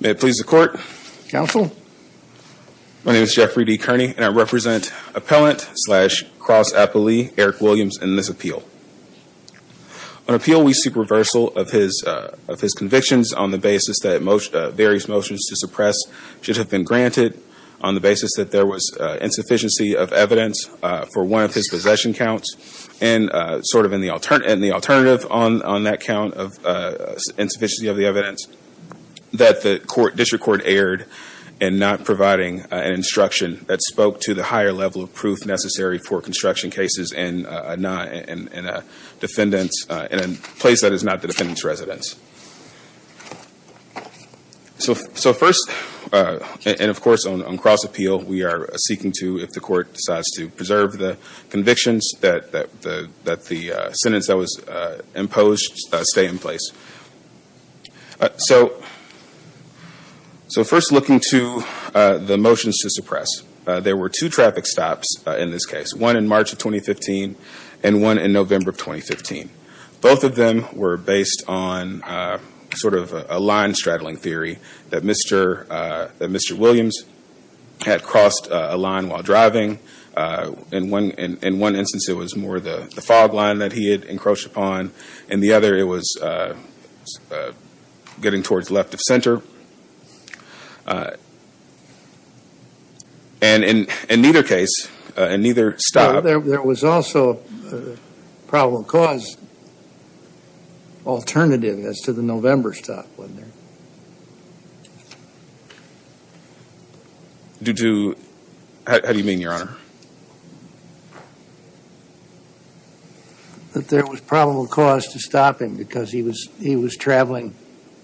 May it please the court. Counsel. My name is Jeffrey D. Kearney and I represent appellant slash cross-appellee Eric Williams in this appeal. On appeal we seek reversal of his convictions on the basis that various motions to suppress should have been granted on the basis that there was insufficiency of evidence for one of his possession counts and sort of in the alternative on that count of insufficiency of the evidence that the district court erred in not providing an instruction that spoke to the higher level of proof necessary for construction cases in a place that is not the defendant's residence. So first and of course on cross-appeal we are seeking to if the court decides to preserve the convictions that the sentence that was imposed stay in place. So first looking to the motions to suppress. There were two traffic stops in this case. One in March of 2015 and one in November of 2015. Both of them were based on sort of a line straddling theory that Mr. Williams had crossed a line while driving. In one instance it was more the fog line that he had encroached upon. In the other it was getting towards left of center. And in neither case, in neither stop. But there was also a probable cause alternative as to the November stop, wasn't there? Due to, how do you mean, Your Honor? That there was probable cause to stop him because he was traveling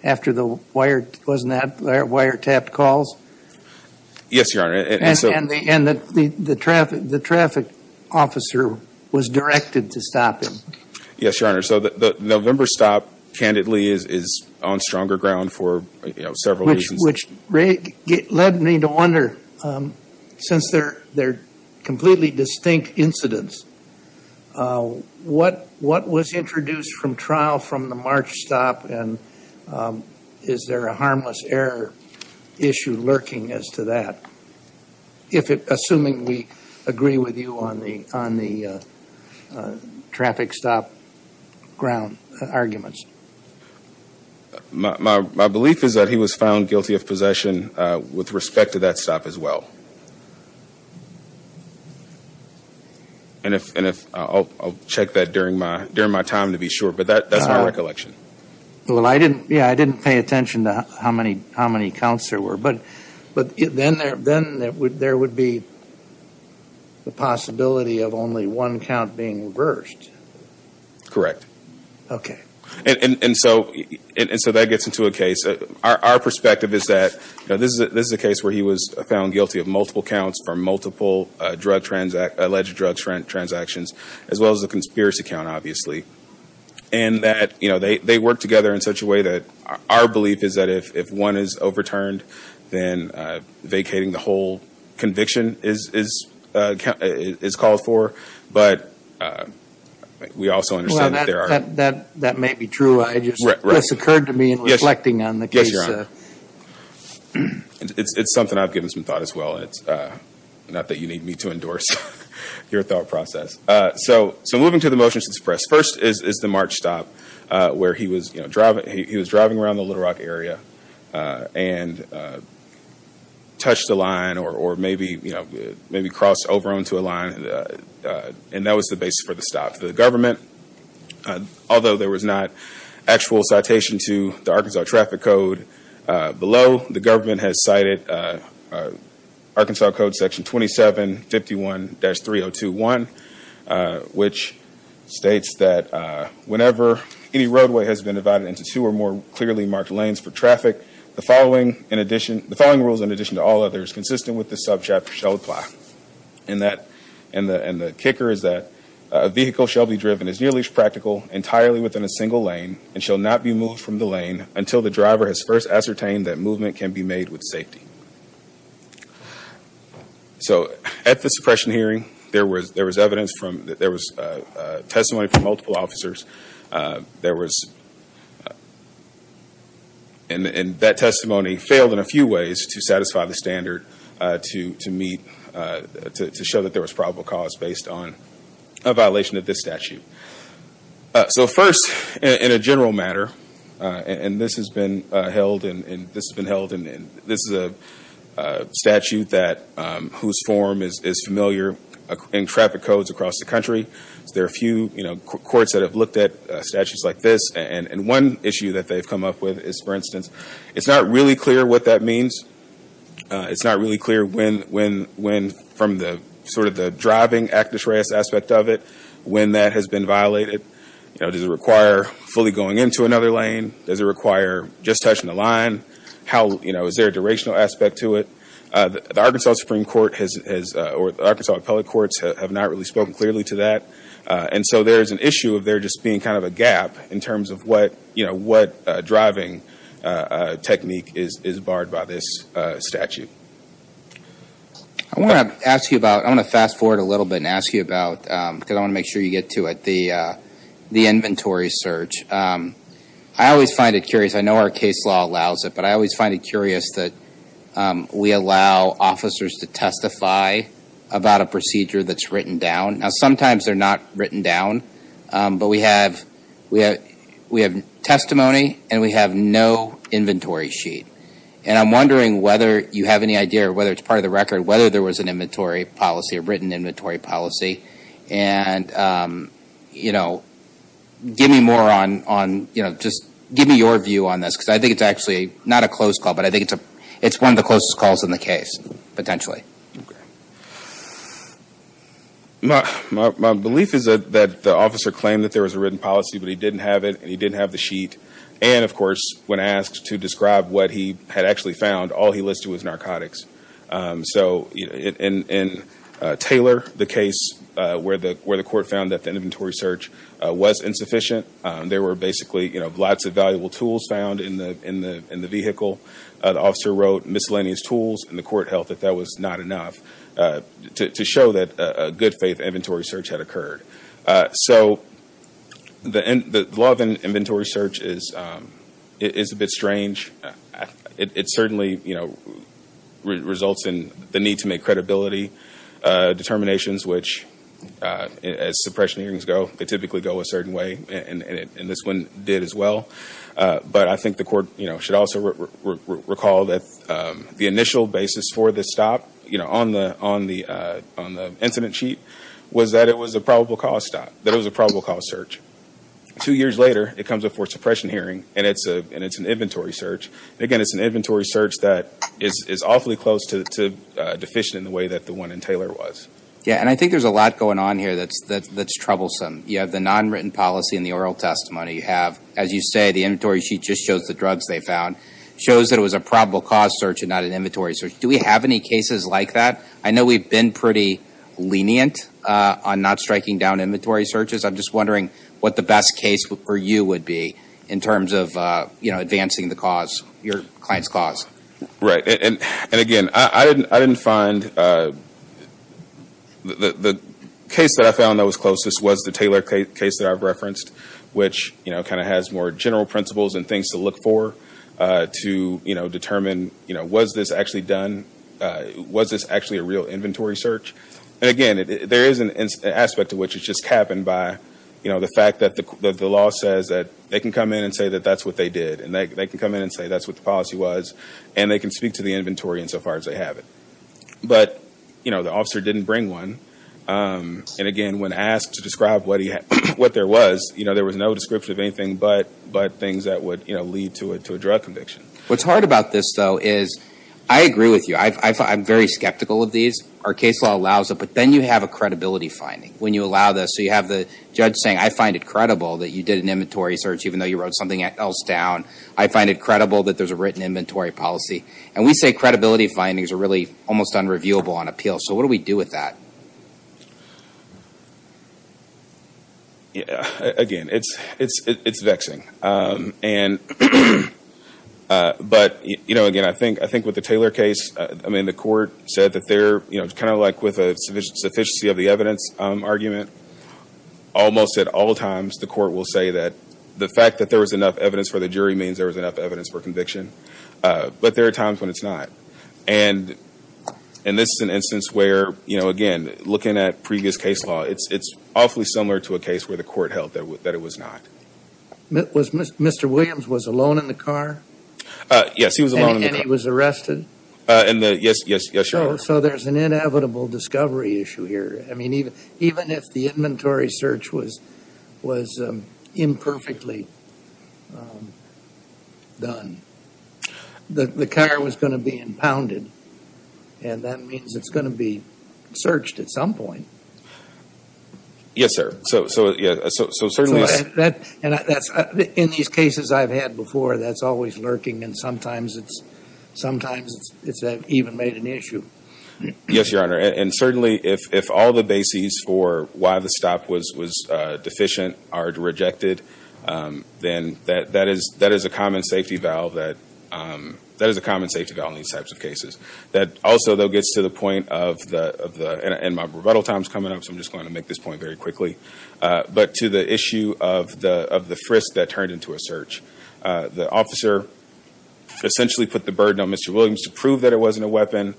after the wire, wasn't that wire tapped calls? Yes, Your Honor. And the traffic officer was directed to stop him. Yes, Your Honor. So the November stop, candidly, is on stronger ground for several reasons. Which led me to wonder, since they are completely distinct incidents, what was introduced from the March stop and is there a harmless error issue lurking as to that? Assuming we agree with you on the traffic stop ground arguments. My belief is that he was found guilty of possession with respect to that stop as well. And I'll check that during my time to be sure. But that's my recollection. I didn't pay attention to how many counts there were. But then there would be the possibility of only one count being reversed. Correct. And so that gets into a case. Our perspective is that this is a case where he was found guilty of multiple counts for multiple alleged drug transactions, as well as a conspiracy count, obviously. And that they work together in such a way that our belief is that if one is overturned, then vacating the whole conviction is called for. But we also understand that there are... That may be true. It just occurred to me in reflecting on the case. Thank you, John. It's something I've given some thought as well. Not that you need me to endorse your thought process. So moving to the motions to suppress. First is the March stop where he was driving around the Little Rock area and touched a line or maybe crossed over onto a line. And that was the basis for the stop. The government, although there was not actual citation to the Arkansas traffic code below, the government has cited Arkansas code section 2751-3021, which states that whenever any roadway has been divided into two or more clearly marked lanes for traffic, the following rules in addition to all others consistent with this subchapter shall apply. And the kicker is that a vehicle shall be driven as nearly as practical entirely within a single lane and shall not be moved from the lane until the driver has first ascertained that movement can be made with safety. So at the suppression hearing, there was testimony from multiple officers. And that testimony failed in a few ways to satisfy the standard to show that there was probable cause based on a violation of this statute. So first, in a general matter, and this has been held, and this is a statute whose form is familiar in traffic codes across the country. There are a few courts that have looked at statutes like this. And one issue that they've come up with is, for instance, it's not really clear what that means. It's not really clear when, from sort of the driving aspect of it, when that has been violated. Does it require fully going into another lane? Does it require just touching the line? Is there a durational aspect to it? The Arkansas Supreme Court or the Arkansas Appellate Courts have not really spoken clearly to that. And so there's an issue of there just being kind of a gap in terms of what driving technique is barred by this statute. I want to ask you about, I want to fast forward a little bit and ask you about, because I want to make sure you get to it, the inventory search. I always find it curious, I know our case law allows it, but I always find it curious that we allow officers to testify about a procedure that's written down. Now sometimes they're not written down, but we have testimony and we have no inventory sheet. And I'm wondering whether you have any idea, or whether it's part of the record, whether there was an inventory policy, a written inventory policy. And, you know, give me more on, you know, just give me your view on this, because I think it's actually not a close call, but I think it's one of the closest calls in the case, potentially. My belief is that the officer claimed that there was a written policy, but he didn't have it and he didn't have the sheet. And, of course, when asked to describe what he had actually found, all he listed was narcotics. So in Taylor, the case where the court found that the inventory search was insufficient, there were basically, you know, lots of valuable tools found in the vehicle. The officer wrote miscellaneous tools and the court held that that was not enough to show that a good faith inventory search had occurred. So the law of inventory search is a bit strange. It certainly, you know, results in the need to make credibility determinations, which, as suppression hearings go, they typically go a certain way, and this one did as well. But I think the court, you know, should also recall that the initial basis for this stop, you know, on the incident sheet, was that it was a probable cause stop, that it was a probable cause search. Two years later, it comes up for a suppression hearing and it's an inventory search. Again, it's an inventory search that is awfully close to deficient in the way that the one in Taylor was. Yeah, and I think there's a lot going on here that's troublesome. You have the non-written policy in the oral testimony. You have, as you say, the inventory sheet just shows the drugs they found. It shows that it was a probable cause search and not an inventory search. Do we have any cases like that? I know we've been pretty lenient on not striking down inventory searches. I'm just wondering what the best case for you would be in terms of, you know, advancing the cause, your client's cause. Right. And again, I didn't find – the case that I found that was closest was the Taylor case that I've referenced, which, you know, kind of has more general principles and things to look for to, you know, determine, you know, was this actually done? Was this actually a real inventory search? And again, there is an aspect to which it's just happened by, you know, the fact that the law says that they can come in and say that that's what they did. And they can come in and say that's what the policy was. And they can speak to the inventory insofar as they have it. But, you know, the officer didn't bring one. And again, when asked to describe what there was, you know, there was no description of anything but things that would, you know, lead to a drug conviction. What's hard about this, though, is I agree with you. I'm very skeptical of these. Our case law allows it. But then you have a credibility finding when you allow this. So you have the judge saying, I find it credible that you did an inventory search even though you wrote something else down. I find it credible that there's a written inventory policy. And we say credibility findings are really almost unreviewable on appeal. So what do we do with that? Yeah. Again, it's vexing. And but, you know, again, I think with the Taylor case, I mean the court said that they're, you know, kind of like with a sufficiency of the evidence argument, almost at all times the court will say that the fact that there was enough evidence for the jury means there was enough evidence for conviction. But there are times when it's not. And this is an instance where, you know, again, looking at previous case law, it's awfully similar to a case where the court held that it was not. Mr. Williams was alone in the car? Yes, he was alone in the car. And he was arrested? Yes, yes, yes, your Honor. So there's an inevitable discovery issue here. I mean, even if the inventory search was imperfectly done, the car was going to be impounded. And that means it's going to be searched at some point. Yes, sir. So, yeah, so certainly... And in these cases I've had before, that's always lurking. And sometimes it's even made an issue. Yes, your Honor. And certainly if all the bases for why the stop was deficient are rejected, then that is a common safety valve in these types of cases. That also, though, gets to the point of the... And my rebuttal time is coming up, so I'm just going to make this point very quickly. But to the issue of the frisk that turned into a search. The officer essentially put the burden on Mr. Williams to prove that it wasn't a weapon,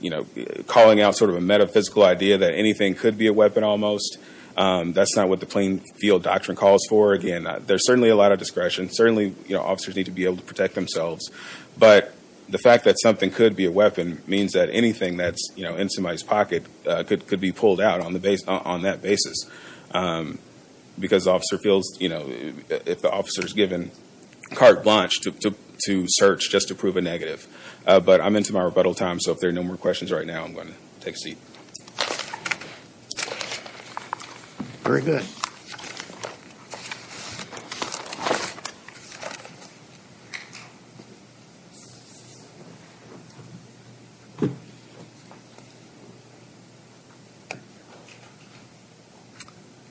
you know, calling out sort of a metaphysical idea that anything could be a weapon almost. That's not what the plain field doctrine calls for. Again, there's certainly a lot of discretion. Certainly, you know, officers need to be able to protect themselves. But the fact that something could be a weapon means that anything that's in somebody's pocket could be pulled out on that basis. Because the officer feels, you know, if the officer's given carte blanche to search just to prove a negative. But I'm into my rebuttal time, so if there are no more questions right now, I'm going to take a seat. Very good.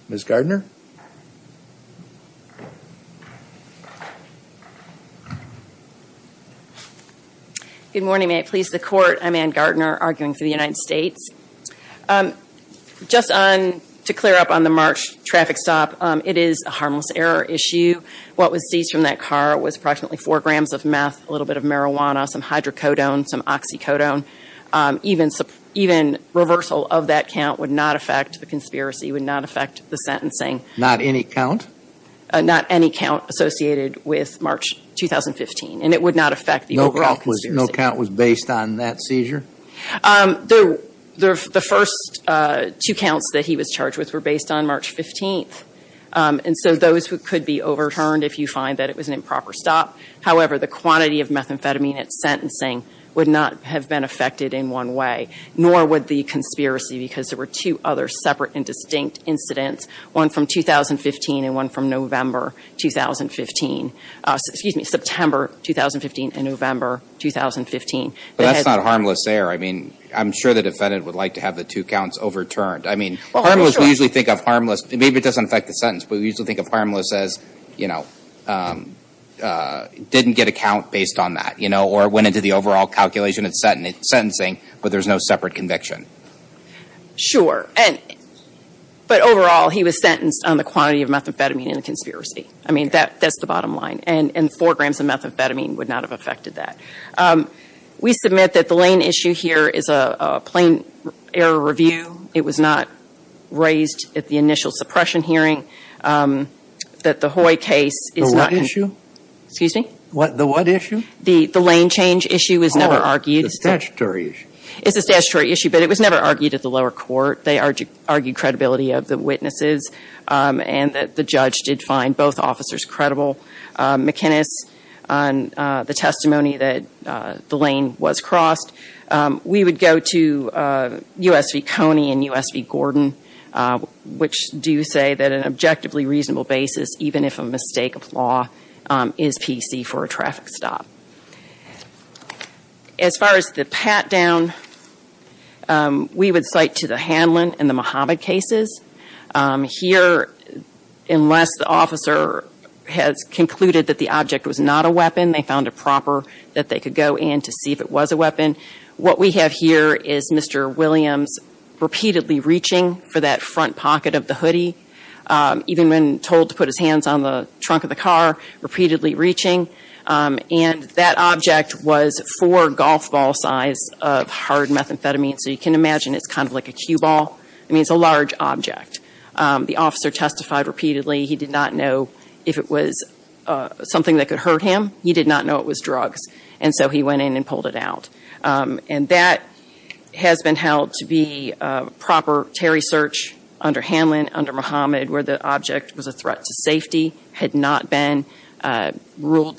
Ms. Gardner? Good morning. May it please the Court, I'm Anne Gardner, arguing for the United States. Just to clear up on the March traffic stop, it is a harmless error issue. What was seized from that car was approximately four grams of meth, a little bit of marijuana, some hydrocodone, some oxycodone. Even reversal of that count would not affect the conspiracy, would not affect the sentencing. Not any count? Not any count associated with March 2015. And it would not affect the overall conspiracy. No count was based on that seizure? The first two counts that he was charged with were based on March 15th. And so those could be overturned if you find that it was an improper stop. However, the quantity of methamphetamine at sentencing would not have been affected in one way, nor would the conspiracy, because there were two other separate and distinct incidents, one from 2015 and one from November 2015. Excuse me, September 2015 and November 2015. But that's not harmless error. I mean, I'm sure the defendant would like to have the two counts overturned. I mean, harmless, we usually think of harmless, maybe it doesn't affect the sentence, but we usually think of harmless as, you know, didn't get a count based on that, you know, or went into the overall calculation at sentencing, but there's no separate conviction. Sure. But overall, he was sentenced on the quantity of methamphetamine in the conspiracy. I mean, that's the bottom line. And four grams of methamphetamine would not have affected that. We submit that the Lane issue here is a plain error review. It was not raised at the initial suppression hearing. That the Hoy case is not... The what issue? Excuse me? The what issue? The Lane change issue was never argued. Oh, the statutory issue. It's a statutory issue, but it was never argued at the lower court. They argued credibility of the witnesses and that the judge did find both officers credible. McInnis, on the testimony that the Lane was crossed, we would go to U.S. v. Coney and U.S. v. Gordon, which do say that an objectively reasonable basis, even if a mistake of law, is PC for a traffic stop. As far as the pat-down, we would cite to the Hanlon and the Mohamed cases. Here, unless the officer has concluded that the object was not a weapon, they found it proper that they could go in to see if it was a weapon. What we have here is Mr. Williams repeatedly reaching for that front pocket of the hoodie, even when told to put his hands on the trunk of the car, repeatedly reaching. And that object was four golf ball size of hard methamphetamine. So you can imagine it's kind of like a cue ball. I mean, it's a large object. The officer testified repeatedly he did not know if it was something that could hurt him. He did not know it was drugs. And so he went in and pulled it out. And that has been held to be proper Terry search under Hanlon, under Mohamed, where the object was a threat to safety, had not been ruled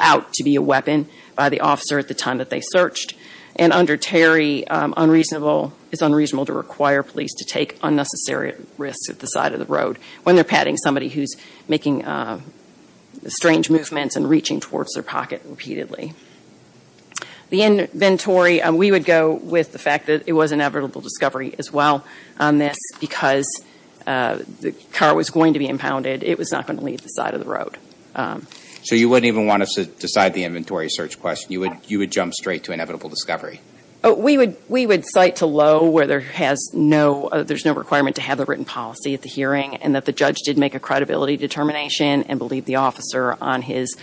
out to be a weapon by the officer at the time that they searched. And under Terry, it's unreasonable to require police to take unnecessary risks at the side of the road when they're patting somebody who's making strange movements and reaching towards their pocket repeatedly. The inventory, we would go with the fact that it was inevitable discovery as well on this because the car was going to be impounded. It was not going to leave the side of the road. So you wouldn't even want us to decide the inventory search question. You would jump straight to inevitable discovery. We would cite to Lowe where there's no requirement to have a written policy at the hearing and that the judge did make a credibility determination and believed the officer on his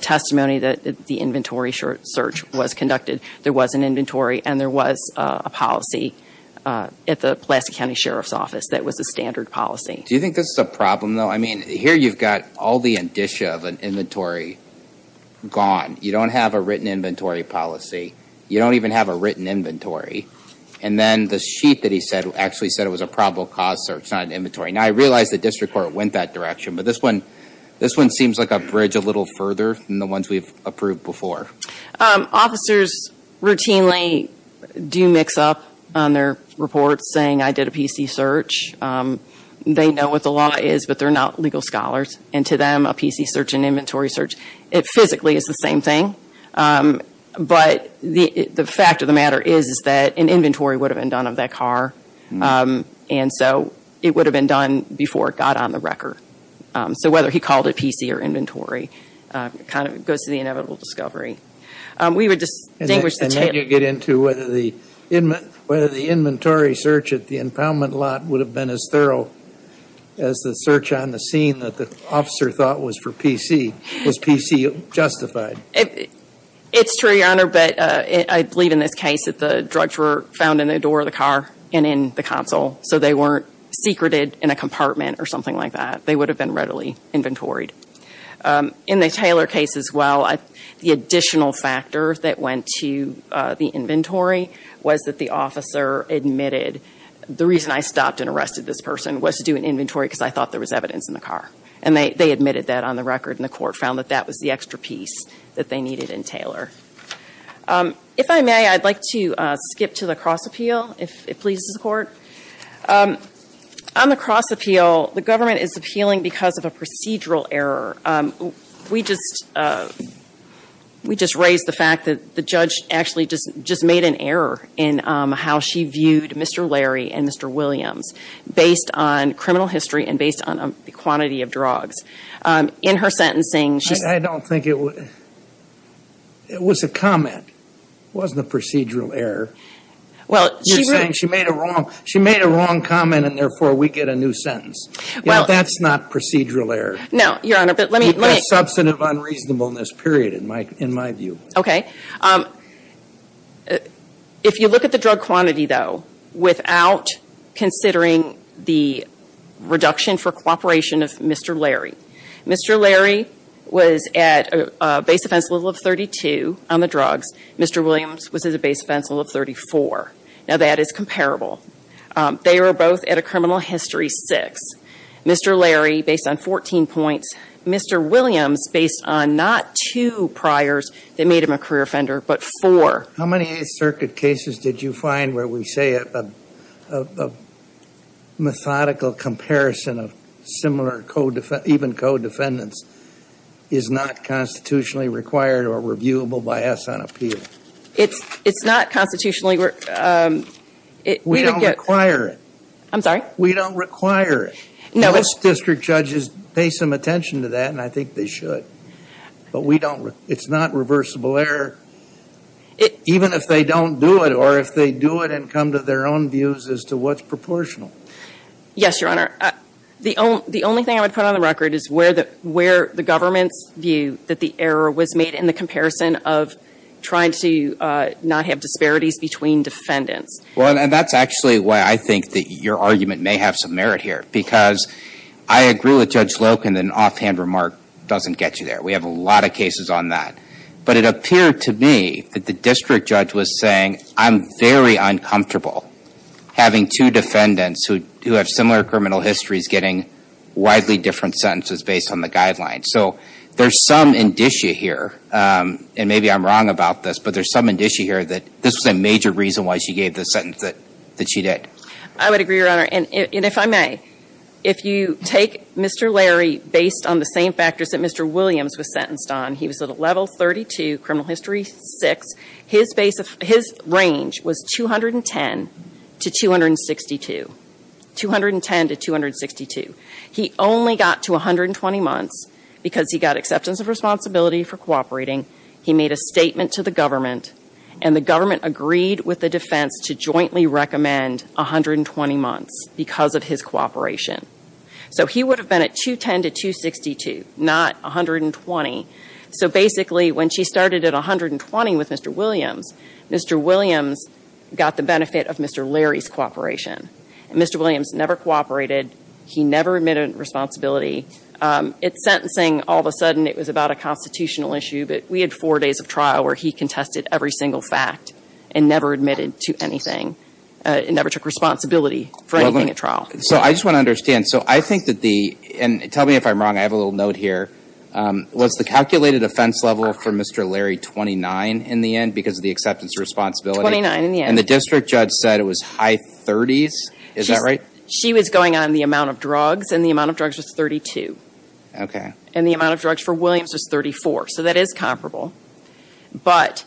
testimony that the inventory search was conducted. There was an inventory and there was a policy at the Pulaski County Sheriff's Office that was a standard policy. Do you think this is a problem though? I mean, here you've got all the indicia of an inventory gone. You don't have a written inventory policy. You don't even have a written inventory. And then the sheet that he said actually said it was a probable cause search, not an inventory. Now I realize the district court went that direction, but this one seems like a bridge a little further than the ones we've approved before. Officers routinely do mix up on their reports saying I did a PC search. They know what the law is, but they're not legal scholars. And to them, a PC search, an inventory search, it physically is the same thing. But the fact of the matter is that an inventory would have been done of that car. And so it would have been done before it got on the record. So whether he called it PC or inventory kind of goes to the inevitable discovery. We would distinguish the two. And then you get into whether the inventory search at the impoundment lot would have been as thorough as the search on the scene that the officer thought was for PC. Is PC justified? It's true, Your Honor, but I believe in this case that the drugs were found in the door of the car and in the console. So they weren't secreted in a compartment or something like that. They would have been readily inventoried. In the Taylor case as well, the additional factor that went to the inventory was that the officer admitted the reason I stopped and arrested this person was to do an inventory because I thought there was evidence in the car. And they admitted that on the record and the court found that that was the extra piece that they needed in Taylor. If I may, I'd like to skip to the cross appeal, if it pleases the court. On the cross appeal, the government is appealing because of a procedural error. We just raised the fact that the judge actually just made an error in how she viewed Mr. Larry and Mr. Williams based on criminal history and based on the quantity of drugs. In her sentencing, she said... It was a comment. It wasn't a procedural error. You're saying she made a wrong comment and therefore we get a new sentence. That's not procedural error. No, Your Honor, but let me... You've got substantive unreasonableness, period, in my view. Okay. If you look at the drug quantity, though, without considering the reduction for cooperation of Mr. Larry. Mr. Larry was at a base offense level of 32 on the drugs. Mr. Williams was at a base offense level of 34. Now that is comparable. They were both at a criminal history six. Mr. Larry, based on 14 points. Mr. Williams, based on not two priors that made him a career offender, but four. How many Eighth Circuit cases did you find where we say a methodical comparison of similar co-defendants, even co-defendants, is not constitutionally required or reviewable by us on appeal? It's not constitutionally... We don't require it. I'm sorry? We don't require it. Most district judges pay some attention to that and I think they should. But we don't... It's not reversible error. Even if they don't do it or if they do it and come to their own views as to what's proportional. Yes, Your Honor. The only thing I would put on the record is where the government's view that the error was made in the comparison of trying to not have disparities between defendants. Well, and that's actually why I think that your argument may have some merit here. Because I agree with Judge Loken that an offhand remark doesn't get you there. We have a lot of cases on that. But it appeared to me that the district judge was saying, I'm very uncomfortable having two defendants who have similar criminal histories getting widely different sentences based on the guidelines. So there's some indicia here, and maybe I'm wrong about this, but there's some indicia here that this was a major reason why she gave the sentence that she did. I would agree, Your Honor. And if I may, if you take Mr. Larry based on the same factors that Mr. Williams was sentenced on, he was at a level 32, criminal history 6. His range was 210 to 262. 210 to 262. He only got to 120 months because he got acceptance of responsibility for cooperating. He made a statement to the government and the government agreed with the defense to jointly recommend 120 months because of his cooperation. So he would have been at 210 to 262, not 120. So basically, when she started at 120 with Mr. Williams, Mr. Williams got the benefit of Mr. Larry's cooperation. Mr. Williams never cooperated. He never admitted responsibility. It's sentencing, all of a sudden it was about a constitutional issue, but we had four days of trial where he contested every single fact and never admitted to anything and never took responsibility for anything at trial. So I just want to understand. So I think that the, and tell me if I'm wrong, I have a little note here, was the calculated offense level for Mr. Larry 29 in the end because of the acceptance of responsibility? 29 in the end. And the district judge said it was high 30s? Is that right? She was going on the amount of drugs and the amount of drugs was 32. Okay. And the amount of drugs for Williams was 34. So that is comparable. But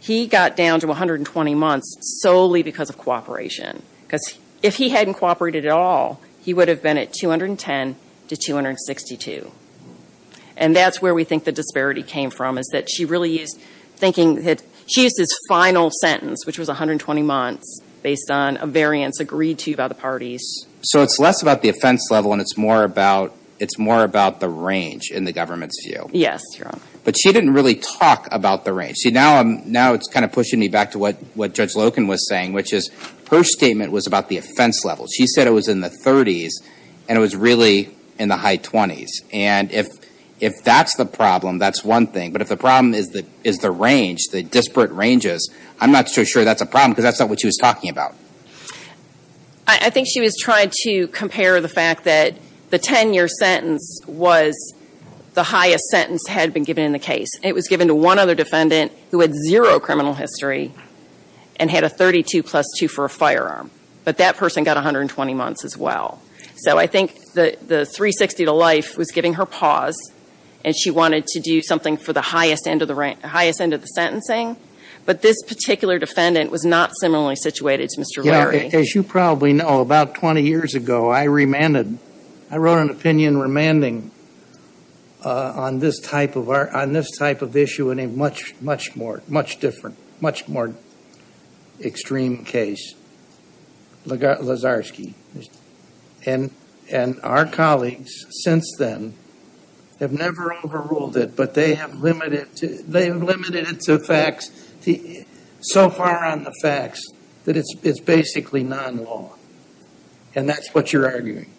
he got down to 120 months solely because of cooperation. Because if he hadn't cooperated at all, he would have been at 210 to 262. And that's where we think the disparity came from is that she really used, thinking, she used his final sentence, which was 120 months based on a variance agreed to by the parties. So it's less about the offense level and it's more about, it's more about the range in the government's view. Yes, Your Honor. But she didn't really talk about the range. See, now I'm, now it's kind of pushing me back to what Judge Loken was saying, which is her statement was about the offense level. She said it was in the 30s and it was really in the high 20s. And if that's the problem, that's one thing. But if the problem is the range, the disparate ranges, I'm not so sure that's a problem because that's not what she was talking about. I think she was trying to compare the fact that the 10-year sentence was the highest sentence had been given in the case. It was given to one other defendant who had zero criminal history and had a 32 plus two for a firearm. But that person got 120 months as well. So I think the 360 to life was giving her pause and she wanted to do something for the highest end of the, highest end of the sentencing. But this particular defendant was not similarly situated to Mr. Larry. Yeah, as you probably know, about 20 years ago, I remanded, I wrote an opinion remanding on this type of issue in a much, much more, much different, much more extreme case. Lazarski. And our colleagues since then have never overruled it, but they have limited it to facts. So far on the facts that it's basically non-law. And that's what you're arguing.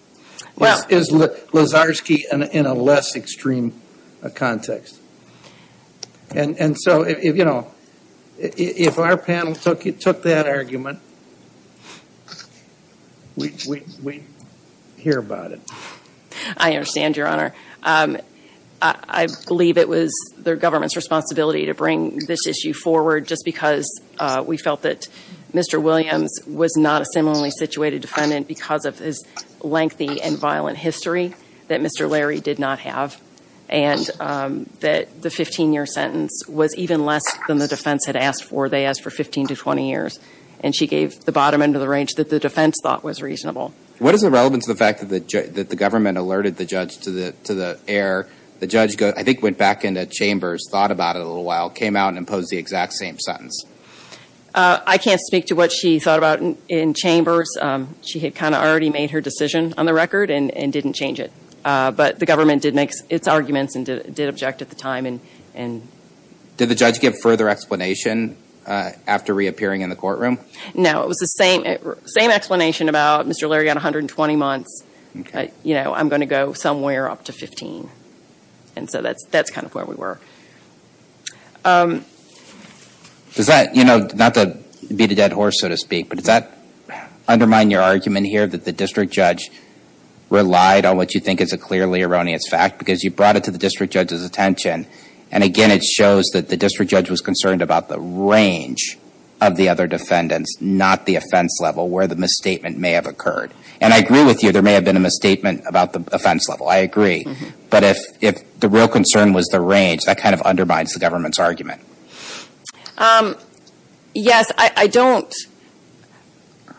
Is Lazarski in a less extreme context? And so, you know, if our panel took that argument, we'd hear about it. I understand, Your Honor. I believe it was the government's responsibility to bring this issue forward just because we felt that Mr. Williams was not a similarly situated defendant because of his lengthy and violent history that Mr. Larry did not have. And that the 15 year sentence was even less than the defense had asked for. They asked for 15 to 20 years. And she gave the bottom end of the range that the defense thought was reasonable. What is the relevance of the fact that the government alerted the judge to the error? The judge, I think, went back into chambers, thought about it a little while, came out and imposed the exact same sentence. I can't speak to what she thought about in chambers. She had kind of already made her decision on the record and didn't change it. But the government did make its arguments and did object at the time. Did the judge give further explanation after reappearing in the courtroom? No. It was the same explanation about Mr. Larry got 120 months. You know, I'm going to go somewhere up to 15. And so that's kind of where we were. Does that, you know, not to beat a dead horse, so to speak, but does that undermine your argument here that the district judge relied on what you think is a clearly erroneous fact because you brought it to the district judge's attention. And again, it shows that the district judge was concerned about the range of the other defendants, not the offense level where the misstatement may have occurred. And I agree with you there may have been a misstatement about the offense level. I agree. But if the real concern was the range, that kind of undermines the government's argument. Yes, I don't.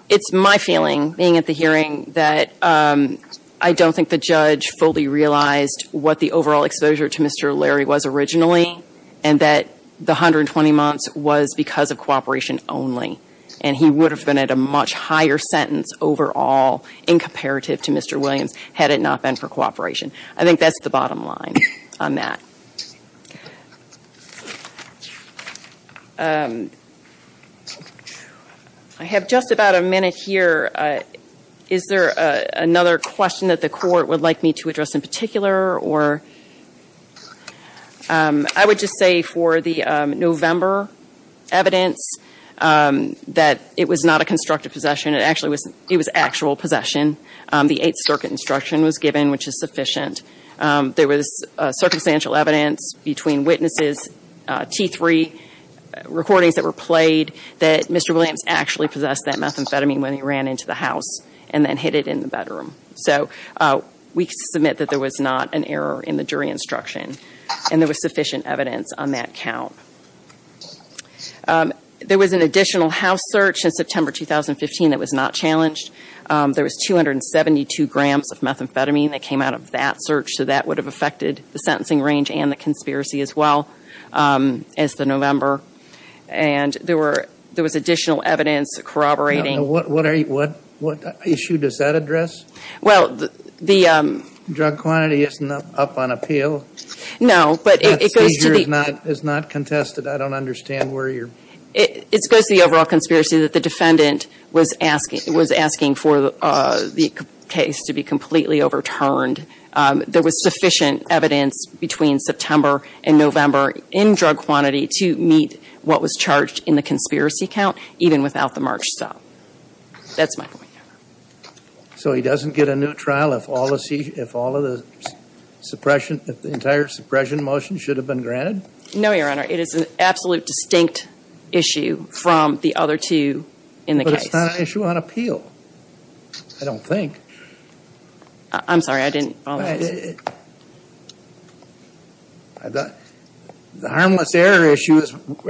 It's my feeling, being at the hearing, that I don't think the judge fully realized what the overall exposure to Mr. Larry was originally and that the 120 months was because of cooperation only. And he would have been at a much higher sentence overall in comparative to Mr. Williams had it not been for cooperation. I think that's the bottom line on that. I have just about a minute here. Is there another question that the court would like me to address in particular? I would just say for the November evidence that it was not a constructive possession. It was actual possession. The Eighth Circuit instruction was given, which is sufficient. There was circumstantial evidence between witnesses, T3 recordings that were played, that Mr. Williams actually possessed that methamphetamine when he ran into the house and then hid it in the bedroom. So we submit that there was not an error in the jury instruction. And there was sufficient evidence on that count. There was an additional house search in September 2015 that was not challenged. There was 272 grams of methamphetamine that came out of that search. So that would have affected the sentencing range and the conspiracy as well as the November. And there was additional evidence corroborating. What issue does that address? Drug quantity is not up on appeal. No, but it goes to the... It's not contested. I don't understand where you're... It goes to the overall conspiracy that the defendant was asking for the case to be completely overturned. There was sufficient evidence between September and November in drug quantity to meet what was charged in the conspiracy count, even without the March stop. That's my point, Your Honor. So he doesn't get a new trial if all of the suppression, if the entire suppression motion should have been granted? No, Your Honor. It is an absolute distinct issue from the other two in the case. But it's not an issue on appeal, I don't think. I'm sorry. I didn't follow that. The harmless error issue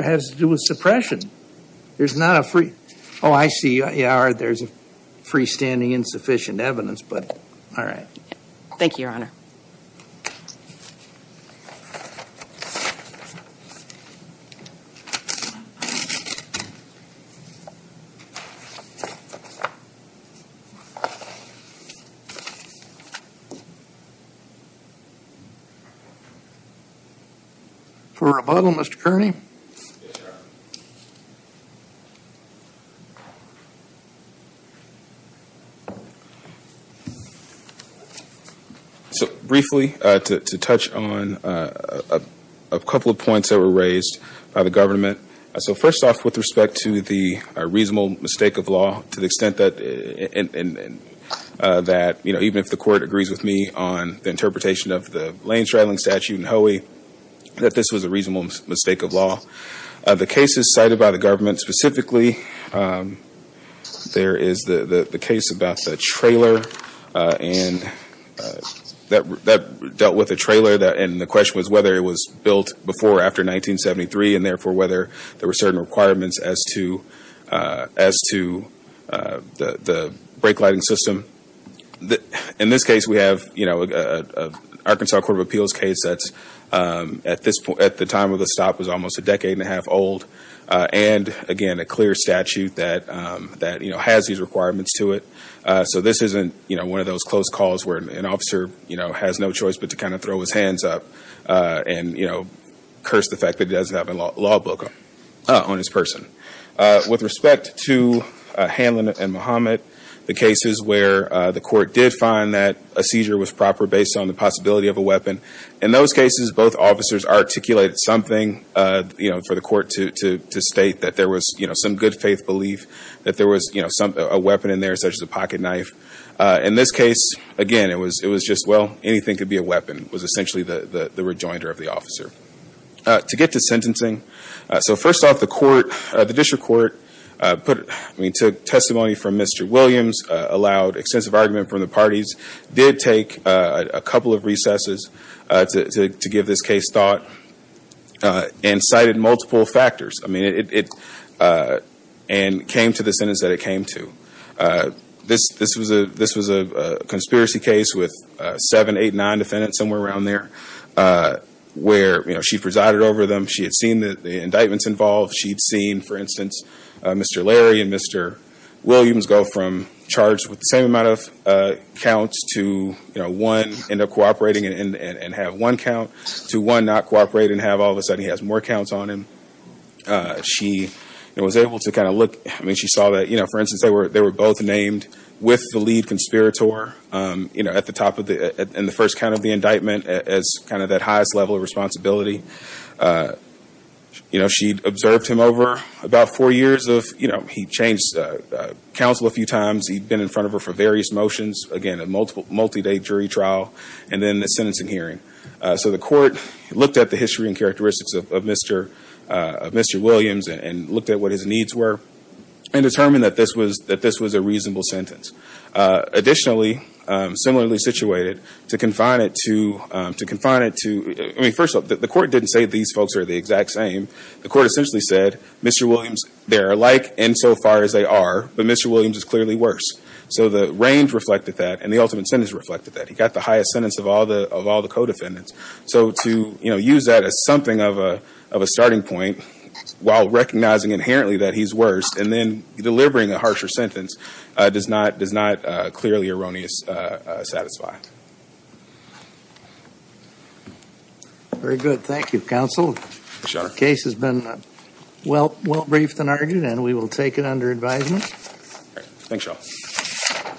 has to do with suppression. There's not a free... Oh, I see. Yeah, there's a freestanding insufficient evidence, but all right. Thank you, Your Honor. For rebuttal, Mr. Kearney? Yes, Your Honor. So briefly, to touch on a couple of points that were raised by the government. So first off, with respect to the reasonable mistake of law, to the extent that even if the court agrees with me on the interpretation of the lane straddling statute in Hoey, that this was a reasonable mistake of law. The cases cited by the government specifically, there is the case about the trailer, and that dealt with the trailer, and the question was whether it was built before or after 1973, and therefore whether there were certain requirements as to the brake lighting system. In this case, we have an Arkansas Court of Appeals case that at the time of the stop was almost a decade and a half old, and again, a clear statute that has these requirements to it. So this isn't one of those close calls where an officer has no choice but to kind of throw his hands up and curse the fact that he doesn't have a law book on his person. With respect to Hanlon and Muhammad, the cases where the court did find that a seizure was proper based on the possibility of a weapon, in those cases, both officers articulated something for the court to state that there was some good faith belief that there was a weapon in there such as a pocket knife. In this case, again, it was just, well, anything could be a weapon, was essentially the rejoinder of the officer. To get to sentencing, so first off, the district court took testimony from Mr. Williams, allowed extensive argument from the parties, did take a couple of recesses to give this case thought, and cited multiple factors, and came to the sentence that it came to. This was a conspiracy case with seven, eight, nine defendants, somewhere around there, where she presided over them. She had seen the indictments involved. She had seen, for instance, Mr. Larry and Mr. Williams go from charged with the same amount of counts to one end up cooperating and have one count, to one not cooperate and have all of a sudden he has more counts on him. She was able to kind of look, I mean, she saw that, for instance, they were both named with the lead conspirator at the top of the, in the first count of the indictment as kind of that highest level of responsibility. You know, she observed him over about four years of, you know, he changed counsel a few times, he'd been in front of her for various motions, again, a multi-day jury trial, and then the sentencing hearing. So the court looked at the history and characteristics of Mr. Williams and looked at what his needs were and determined that this was a reasonable sentence. Additionally, similarly situated, to confine it to, to confine it to, I mean, first of all, the court didn't say these folks are the exact same. The court essentially said, Mr. Williams, they're alike insofar as they are, but Mr. Williams is clearly worse. So the range reflected that and the ultimate sentence reflected that. He got the highest sentence of all the, of all the co-defendants. So to, you know, use that as something of a, of a starting point while recognizing inherently that he's worse and then delivering a harsher sentence does not, does not clearly erroneously satisfy. Very good. Thank you, counsel. Sure. The case has been well, well briefed and argued and we will take it under advisement. Thanks, y'all.